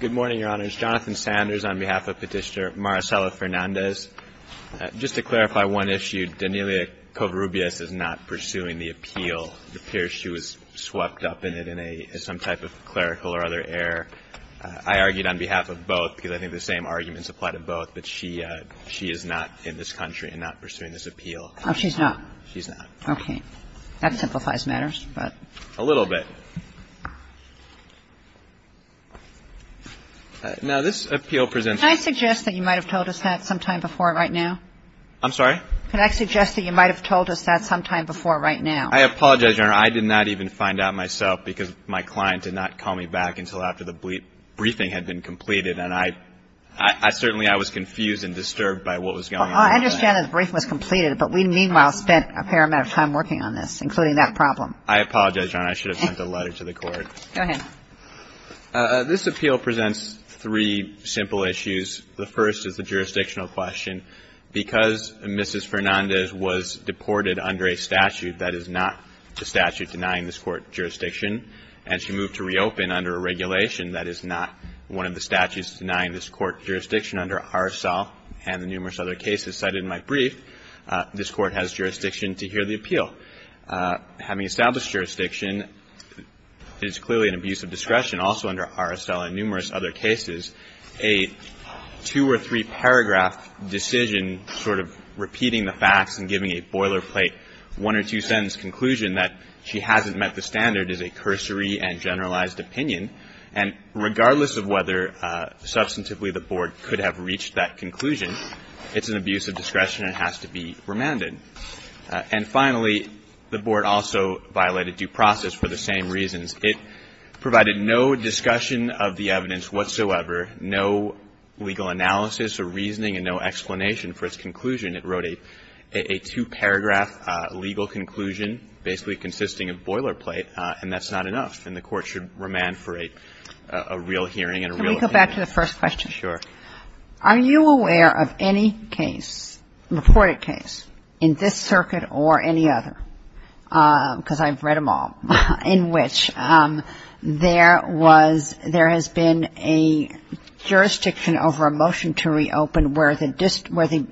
Good morning, Your Honors. Jonathan Sanders on behalf of Petitioner Maricela Fernandez. Just to clarify one issue, Daniela Covarrubias is not pursuing the appeal. It appears she was swept up in it in some type of clerical or other air. I argued on behalf of both because I think the same arguments apply to both, but she is not in this country and not pursuing this appeal. Oh, she's not? She's not. Okay. That simplifies matters, but. A little bit. Now, this appeal presents Can I suggest that you might have told us that sometime before right now? I'm sorry? Can I suggest that you might have told us that sometime before right now? I apologize, Your Honor. I did not even find out myself because my client did not call me back until after the briefing had been completed, and I certainly I was confused and disturbed by what was going on. Well, I understand that the briefing was completed, but we, meanwhile, spent a fair amount of time working on this, including that problem. I apologize, Your Honor. I should have sent a letter to the Court. Go ahead. This appeal presents three simple issues. The first is the jurisdictional question. Because Mrs. Fernandez was deported under a statute that is not the statute denying this Court jurisdiction, and she moved to reopen under a regulation that is not one of the statutes denying this Court jurisdiction under RSL and the numerous other cases cited in my brief, this Court has jurisdiction to hear the appeal. Having established jurisdiction, it is clearly an abuse of discretion also under RSL and numerous other cases. A two- or three-paragraph decision sort of repeating the facts and giving a boilerplate one- or two-sentence conclusion that she hasn't met the standard is a cursory and And finally, the Board also violated due process for the same reasons. It provided no discussion of the evidence whatsoever, no legal analysis or reasoning and no explanation for its conclusion. It wrote a two-paragraph legal conclusion basically consisting of boilerplate, and that's not enough. And the Court should remand for a real hearing and a real appeal. Let's go back to the first question. Sure. Are you aware of any case, reported case in this circuit or any other, because I've read them all, in which there was, there has been a jurisdiction over a motion to reopen where the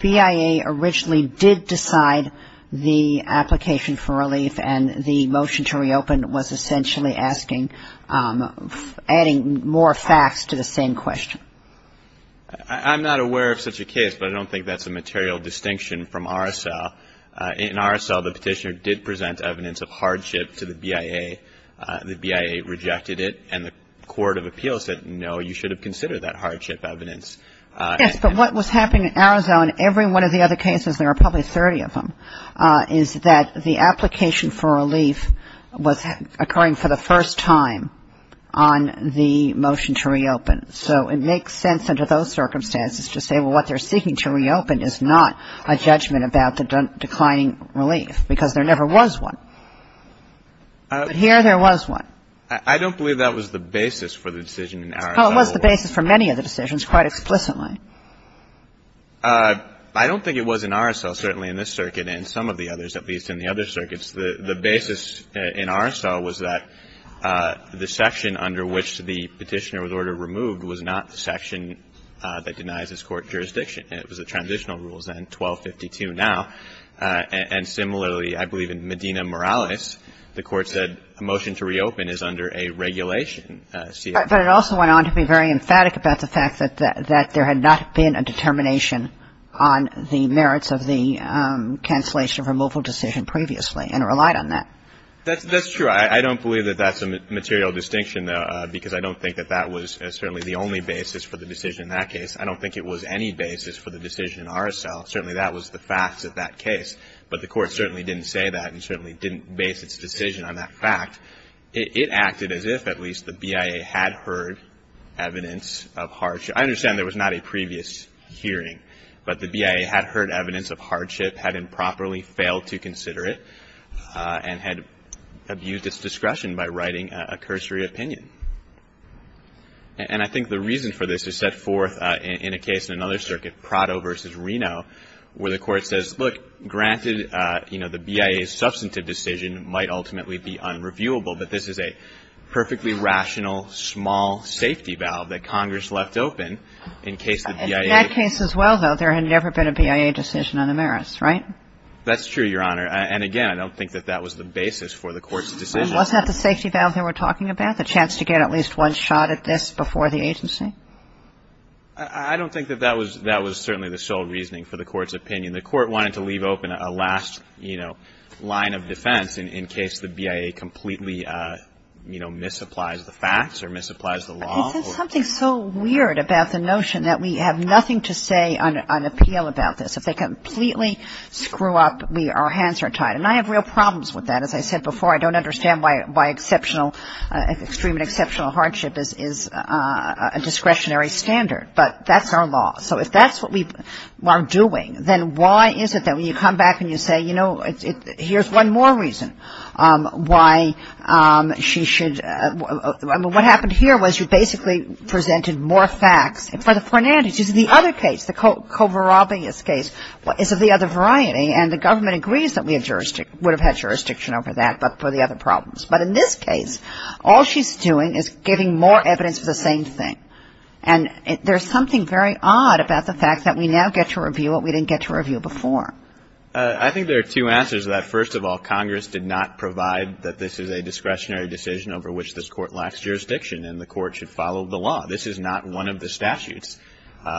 BIA originally did decide the application for relief and the motion to reopen was essentially asking, adding more facts to the same question. I'm not aware of such a case, but I don't think that's a material distinction from RSL. In RSL, the Petitioner did present evidence of hardship to the BIA. The BIA rejected it, and the Court of Appeals said, no, you should have considered that hardship evidence. Yes, but what was happening in RSL in every one of the other cases, there were probably 30 of them, is that the application for relief was occurring for the first time on the motion to reopen. So it makes sense under those circumstances to say, well, what they're seeking to reopen is not a judgment about the declining relief, because there never was one, but here there was one. I don't believe that was the basis for the decision in RSL. Well, it was the basis for many of the decisions quite explicitly. I don't think it was in RSL, certainly in this circuit and some of the others, at least in the other circuits. The basis in RSL was that the section under which the Petitioner was ordered removed was not the section that denies this Court jurisdiction. It was the transitional rules, then, 1252 now. And similarly, I believe in Medina-Morales, the Court said a motion to reopen is under a regulation. But it also went on to be very emphatic about the fact that there had not been a determination on the merits of the cancellation of removal decision previously and relied on that. That's true. I don't believe that that's a material distinction, though, because I don't think that that was certainly the only basis for the decision in that case. I don't think it was any basis for the decision in RSL. Certainly that was the fact of that case. But the Court certainly didn't say that and certainly didn't base its decision on that fact. It acted as if, at least, the BIA had heard evidence of hardship. I understand there was not a previous hearing, but the BIA had heard evidence of hardship, had improperly failed to consider it, and had abused its discretion by writing a cursory opinion. And I think the reason for this is set forth in a case in another circuit, Prado v. Reno, where the Court says, look, granted, you know, the BIA's substantive decision might ultimately be unreviewable, but this is a perfectly rational, small safety valve that Congress left open in case the BIA ---- In that case as well, though, there had never been a BIA decision on the merits, right? That's true, Your Honor. And again, I don't think that that was the basis for the Court's decision. And was that the safety valve they were talking about, the chance to get at least one shot at this before the agency? I don't think that that was certainly the sole reasoning for the Court's opinion. I mean, the Court wanted to leave open a last, you know, line of defense in case the BIA completely, you know, misapplies the facts or misapplies the law. I think there's something so weird about the notion that we have nothing to say on appeal about this. If they completely screw up, we ---- our hands are tied. And I have real problems with that. As I said before, I don't understand why exceptional, extreme and exceptional hardship is a discretionary standard. But that's our law. So if that's what we are doing, then why is it that when you come back and you say, you know, here's one more reason why she should ---- I mean, what happened here was you basically presented more facts. And for the Fernandes, this is the other case, the Covarrubias case, is of the other variety. And the government agrees that we have jurisdiction ---- would have had jurisdiction over that but for the other problems. But in this case, all she's doing is giving more evidence for the same thing. And there's something very odd about the fact that we now get to review what we didn't get to review before. I think there are two answers to that. First of all, Congress did not provide that this is a discretionary decision over which this Court lacks jurisdiction and the Court should follow the law. This is not one of the statutes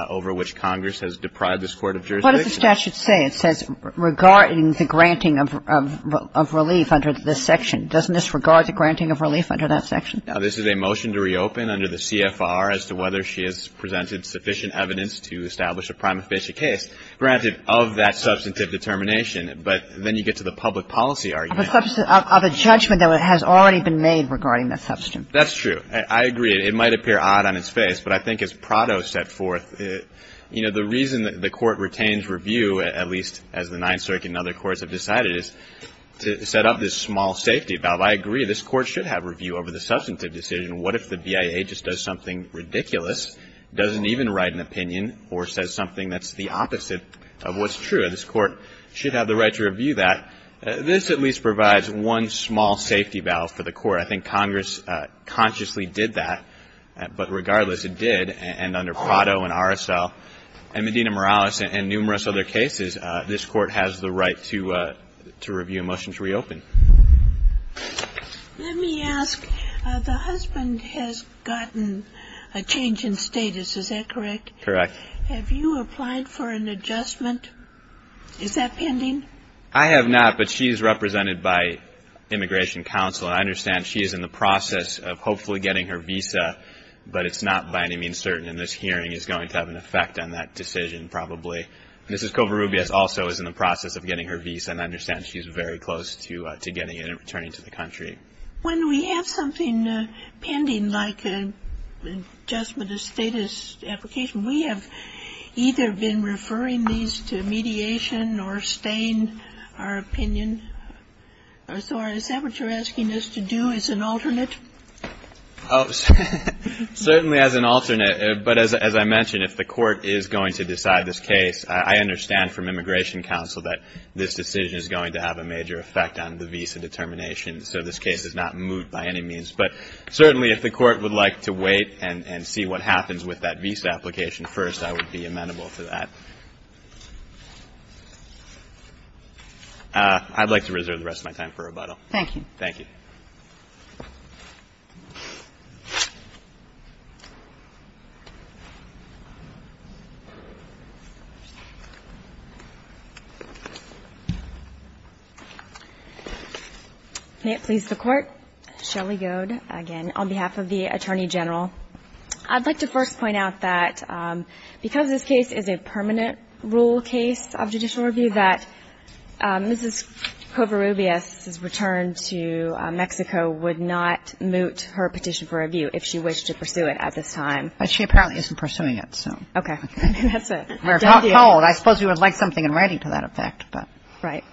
over which Congress has deprived this Court of jurisdiction. What does the statute say? It says regarding the granting of relief under this section. Doesn't this regard the granting of relief under that section? Now, this is a motion to reopen under the CFR as to whether she has presented sufficient evidence to establish a prima facie case granted of that substantive determination. But then you get to the public policy argument. Of a judgment that has already been made regarding that substantive determination. That's true. I agree. It might appear odd on its face. But I think as Prado set forth, you know, the reason that the Court retains review, at least as the Ninth Circuit and other courts have decided, is to set up this small safety valve. I agree. This Court should have review over the substantive decision. What if the BIA just does something ridiculous, doesn't even write an opinion, or says something that's the opposite of what's true? This Court should have the right to review that. This at least provides one small safety valve for the Court. I think Congress consciously did that. But regardless, it did. And under Prado and RSL and Medina-Morales and numerous other cases, this Court has the right to review a motion to reopen. Let me ask, the husband has gotten a change in status. Is that correct? Correct. Have you applied for an adjustment? Is that pending? I have not, but she is represented by Immigration Counsel. And I understand she is in the process of hopefully getting her visa. But it's not by any means certain. And this hearing is going to have an effect on that decision, probably. Mrs. Covarrubias also is in the process of getting her visa. And I understand she is very close to getting it and returning to the country. When we have something pending, like an adjustment of status application, we have either been referring these to mediation or staying our opinion. Is that what you're asking us to do as an alternate? Certainly as an alternate. But as I mentioned, if the Court is going to decide this case, I understand from Immigration Counsel that this decision is going to have a major effect on the visa determination. So this case is not moved by any means. But certainly if the Court would like to wait and see what happens with that visa application first, I would be amenable to that. I'd like to reserve the rest of my time for rebuttal. Thank you. Thank you. May it please the Court. Shelly Goad, again, on behalf of the Attorney General. I'd like to first point out that because this case is a permanent rule case of judicial review, that Mrs. Covarrubias' return to Mexico would not moot her petition for review if she wished to pursue it at this time. But she apparently isn't pursuing it, so. Okay. That's it. I suppose we would like something in writing to that effect. Right.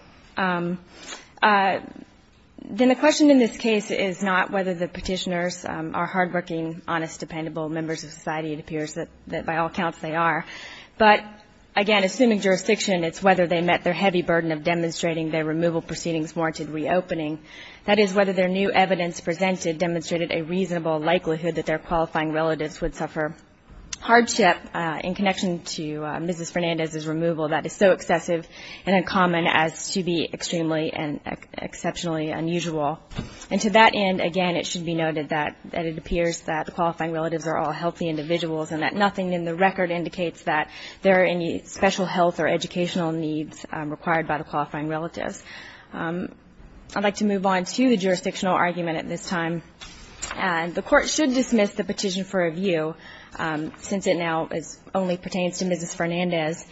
Then the question in this case is not whether the petitioners are hardworking, honest, dependable members of society. It appears that by all counts they are. But, again, assuming jurisdiction, it's whether they met their heavy burden of demonstrating their removal proceedings warranted reopening, that is, whether their new evidence presented demonstrated a reasonable likelihood that their qualifying relatives would suffer hardship in connection to Mrs. Fernandez's removal that is so excessive and uncommon as to be extremely and exceptionally unusual. And to that end, again, it should be noted that it appears that the qualifying relatives are all healthy individuals and that nothing in the record indicates that there are any special health or educational needs required by the qualifying relatives. I'd like to move on to the jurisdictional argument at this time. And the Court should dismiss the petition for review, since it now only pertains to Mrs. Fernandez,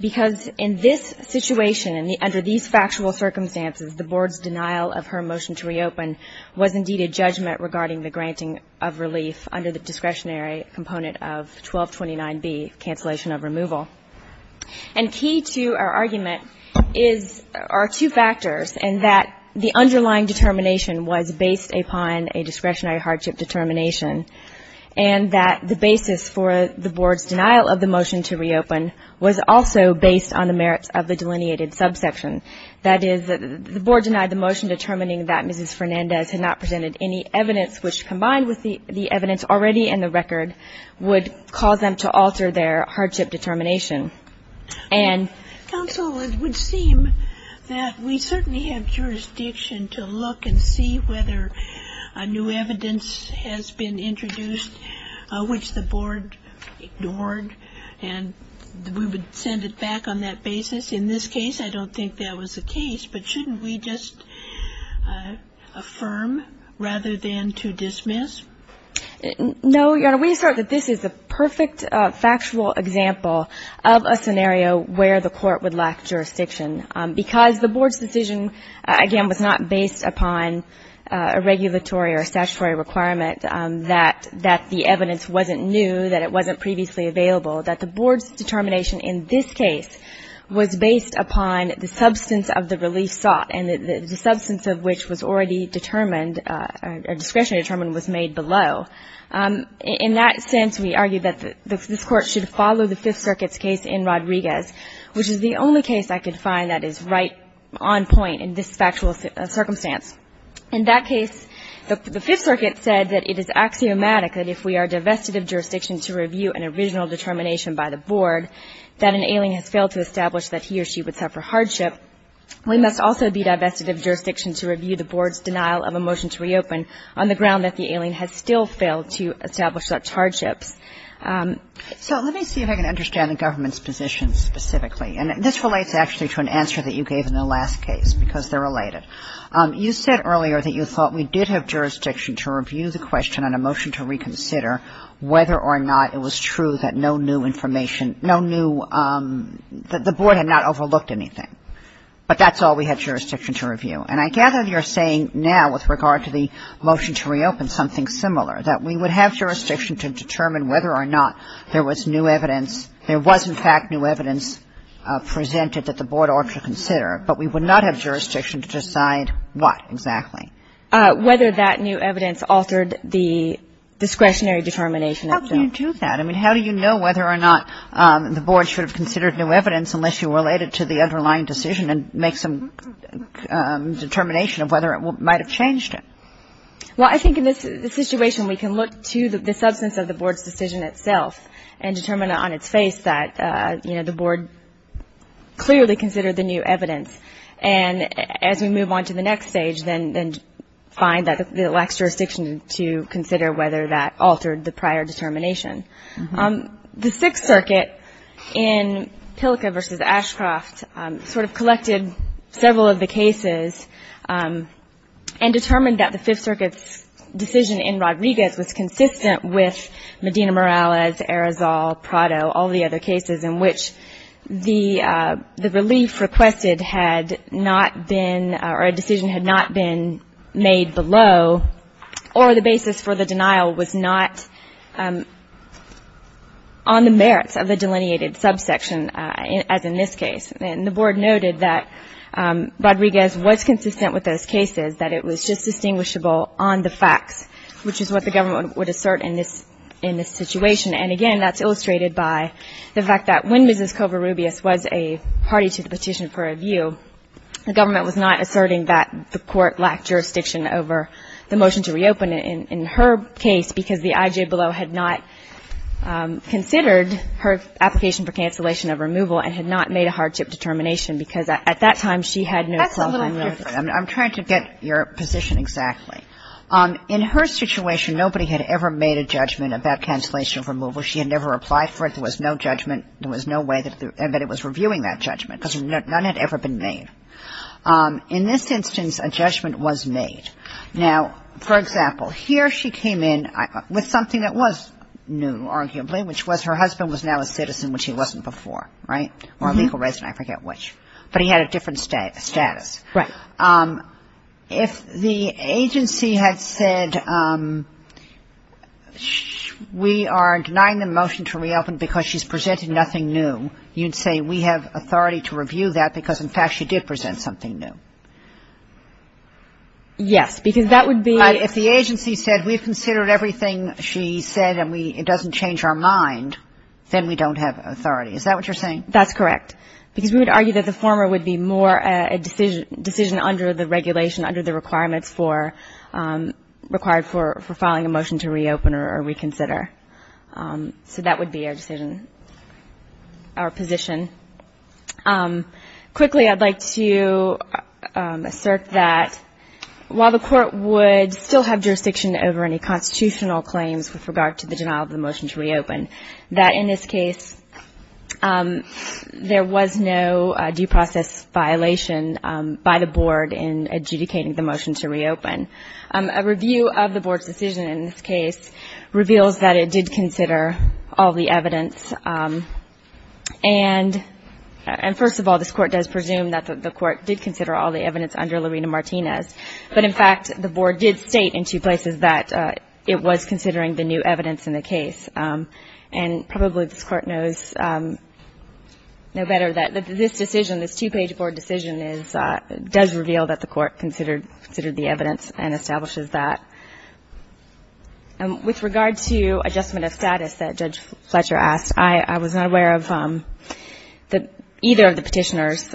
because in this situation, under these factual circumstances, the Board's denial of her motion to reopen was indeed a judgment regarding the granting of relief under the discretionary component of 1229B, cancellation of removal. And key to our argument is or are two factors in that the underlying determination was based upon a discretionary hardship determination and that the basis for the Board's denial of the motion to reopen was also based on the merits of the delineated subsection. That is, the Board denied the motion determining that Mrs. Fernandez had not presented any evidence which, combined with the evidence already in the record, would cause them to alter their hardship determination. And... Counsel, it would seem that we certainly have jurisdiction to look and see whether new evidence has been introduced, which the Board ignored, and we would send it back on that basis. In this case, I don't think that was the case. But shouldn't we just affirm rather than to dismiss? No, Your Honor. We assert that this is the perfect factual example of a scenario where the Court would lack jurisdiction because the Board's decision, again, was not based upon a regulatory or statutory requirement that the evidence wasn't new, that it wasn't previously available. That the Board's determination in this case was based upon the substance of the relief sought, and the substance of which was already determined or discretionary determined was made below. In that sense, we argue that this Court should follow the Fifth Circuit's case in Rodriguez, which is the only case I could find that is right on point in this factual circumstance. In that case, the Fifth Circuit said that it is axiomatic that if we are divested of jurisdiction to review an original determination by the Board, that an ailing has failed to establish that he or she would suffer hardship. We must also be divested of jurisdiction to review the Board's denial of a motion to reopen on the ground that the ailing has still failed to establish such hardships. So let me see if I can understand the government's position specifically. And this relates actually to an answer that you gave in the last case because they're related. You said earlier that you thought we did have jurisdiction to review the question on a motion to reconsider whether or not it was true that no new information no new the Board had not overlooked anything. But that's all we had jurisdiction to review. And I gather you're saying now with regard to the motion to reopen something similar, that we would have jurisdiction to determine whether or not there was new evidence. There was, in fact, new evidence presented that the Board ought to consider, but we would not have jurisdiction to decide what exactly. Whether that new evidence altered the discretionary determination of the Board. How do you do that? I mean, how do you know whether or not the Board should have considered new evidence unless you related to the underlying decision and make some determination of whether it might have changed it? Well, I think in this situation, we can look to the substance of the Board's decision itself and determine on its face that, you know, the Board clearly considered the new evidence. And as we move on to the next stage, then find that it lacks jurisdiction to consider whether that altered the prior determination. The Sixth Circuit in Pilka v. Ashcroft sort of collected several of the cases and determined that the Fifth Circuit's decision in Rodriguez was consistent with Medina-Morales, Arizal, Prado, all the other cases in which the relief requested had not been or a decision had not been made below or the basis for the denial was not on the merits of the delineated subsection as in this case. And the Board noted that Rodriguez was consistent with those cases, that it was just distinguishable on the facts, which is what the government would assert in this situation. And again, that's illustrated by the fact that when Mrs. Covarrubias was a party to the petition for review, the government was not asserting that the court lacked jurisdiction over the motion to reopen in her case because the IJBELO had not considered her application for cancellation of removal and had not made a hardship determination because at that time, she had no self-determination. Kagan. I'm trying to get your position exactly. In her situation, nobody had ever made a judgment about cancellation of removal. She had never applied for it. There was no judgment. There was no way that it was reviewing that judgment because none had ever been made. In this instance, a judgment was made. Now, for example, here she came in with something that was new, arguably, which was her husband was now a citizen, which he wasn't before, right, or a legal resident, I forget which. But he had a different status. Right. If the agency had said, we are denying the motion to reopen because she's presented nothing new, you'd say we have authority to review that because, in fact, she did present something new. Yes. Because that would be. If the agency said, we've considered everything she said and it doesn't change our mind, then we don't have authority. Is that what you're saying? That's correct. Because we would argue that the former would be more a decision under the regulation, under the requirements for required for filing a motion to reopen or reconsider. So that would be our decision, our position. Quickly, I'd like to assert that while the court would still have jurisdiction over any constitutional claims with regard to the denial of the motion to reopen, that in this case, there was no due process violation by the board in adjudicating the motion to reopen. A review of the board's decision in this case reveals that it did consider all the evidence. And, first of all, this court does presume that the court did consider all the evidence under Lorena Martinez. But, in fact, the board did state in two places that it was considering the new evidence in the case. And probably this court knows no better that this decision, this two-page board decision, does reveal that the court considered the evidence and establishes that. With regard to adjustment of status that Judge Fletcher asked, I was not aware of either of the petitioners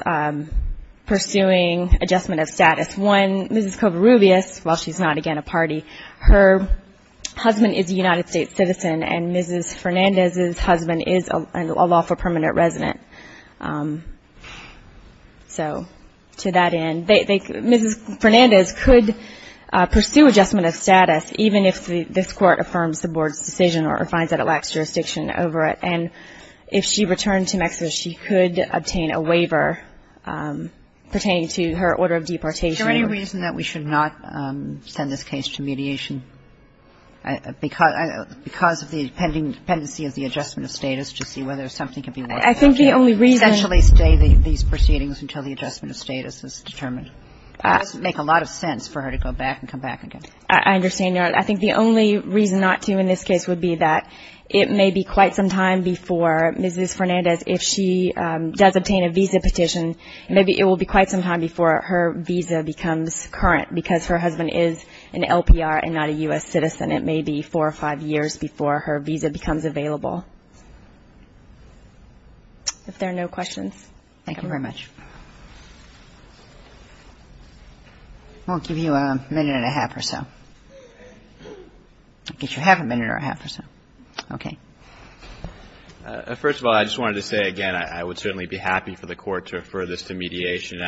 pursuing adjustment of status. One, Mrs. Covarrubias, while she's not, again, a party, her husband is a United States citizen, and Mrs. Fernandez's husband is a lawful permanent resident. So to that end, Mrs. Fernandez could pursue adjustment of status, even if this court affirms the board's decision or finds that it lacks jurisdiction over it. And if she returned to Mexico, she could obtain a waiver pertaining to her order of deportation. Is there any reason that we should not send this case to mediation because of the dependency of the adjustment of status to see whether something could be worked out? I think the only reason Essentially stay these proceedings until the adjustment of status is determined. It doesn't make a lot of sense for her to go back and come back again. I understand, Your Honor. I think the only reason not to in this case would be that it may be quite some time before Mrs. Fernandez, if she does obtain a visa petition, maybe it will be quite some time before her visa becomes current because her husband is an LPR and not a U.S. citizen. It may be four or five years before her visa becomes available. If there are no questions. Thank you very much. I'll give you a minute and a half or so. I guess you have a minute and a half or so. Okay. First of all, I just wanted to say, again, I would certainly be happy for the court to refer this to mediation.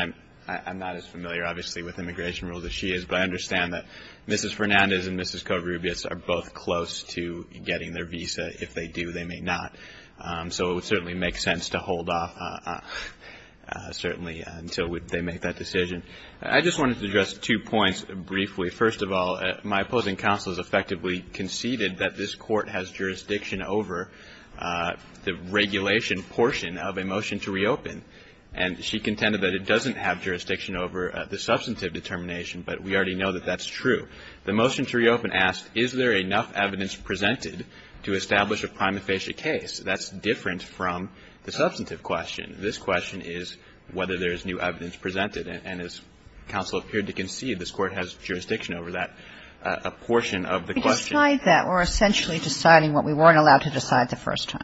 I'm not as familiar, obviously, with immigration rules as she is, but I understand that Mrs. Fernandez and Mrs. Covarrubias are both close to getting their visa. If they do, they may not. So it would certainly make sense to hold off, certainly, until they make that decision. I just wanted to address two points briefly. First of all, my opposing counsel has effectively conceded that this court has jurisdiction over the regulation portion of a motion to reopen, and she contended that it doesn't have jurisdiction over the substantive determination, but we already know that that's true. The motion to reopen asked, is there enough evidence presented to establish a prima facie case? That's different from the substantive question. This question is whether there is new evidence presented. And as counsel appeared to concede, this court has jurisdiction over that portion of the question. We decide that. We're essentially deciding what we weren't allowed to decide the first time.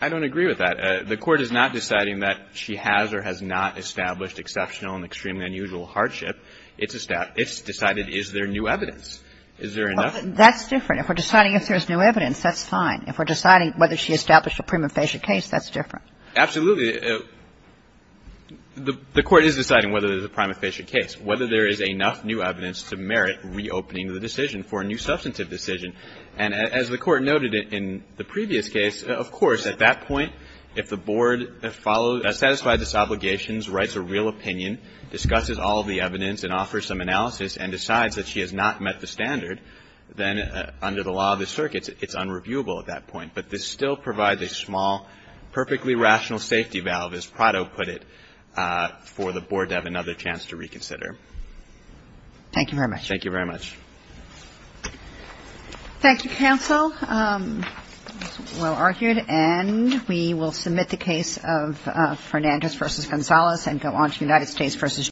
I don't agree with that. The court is not deciding that she has or has not established exceptional and extremely unusual hardship. It's decided, is there new evidence? Is there enough? That's different. If we're deciding if there's new evidence, that's fine. If we're deciding whether she established a prima facie case, that's different. Absolutely. The court is deciding whether there's a prima facie case, whether there is enough new evidence to merit reopening the decision for a new substantive decision. And as the Court noted in the previous case, of course, at that point, if the board follows, satisfies its obligations, writes a real opinion, discusses all of the evidence and offers some analysis and decides that she has not met the standard, then under the law of the circuits, it's unreviewable at that point. But this still provides a small, perfectly rational safety valve, as Prado put it, for the board to have another chance to reconsider. Thank you very much. Thank you very much. Thank you, counsel. Well argued. And we will submit the case of Fernandez v. Gonzalez and go on to United States v. Georgia.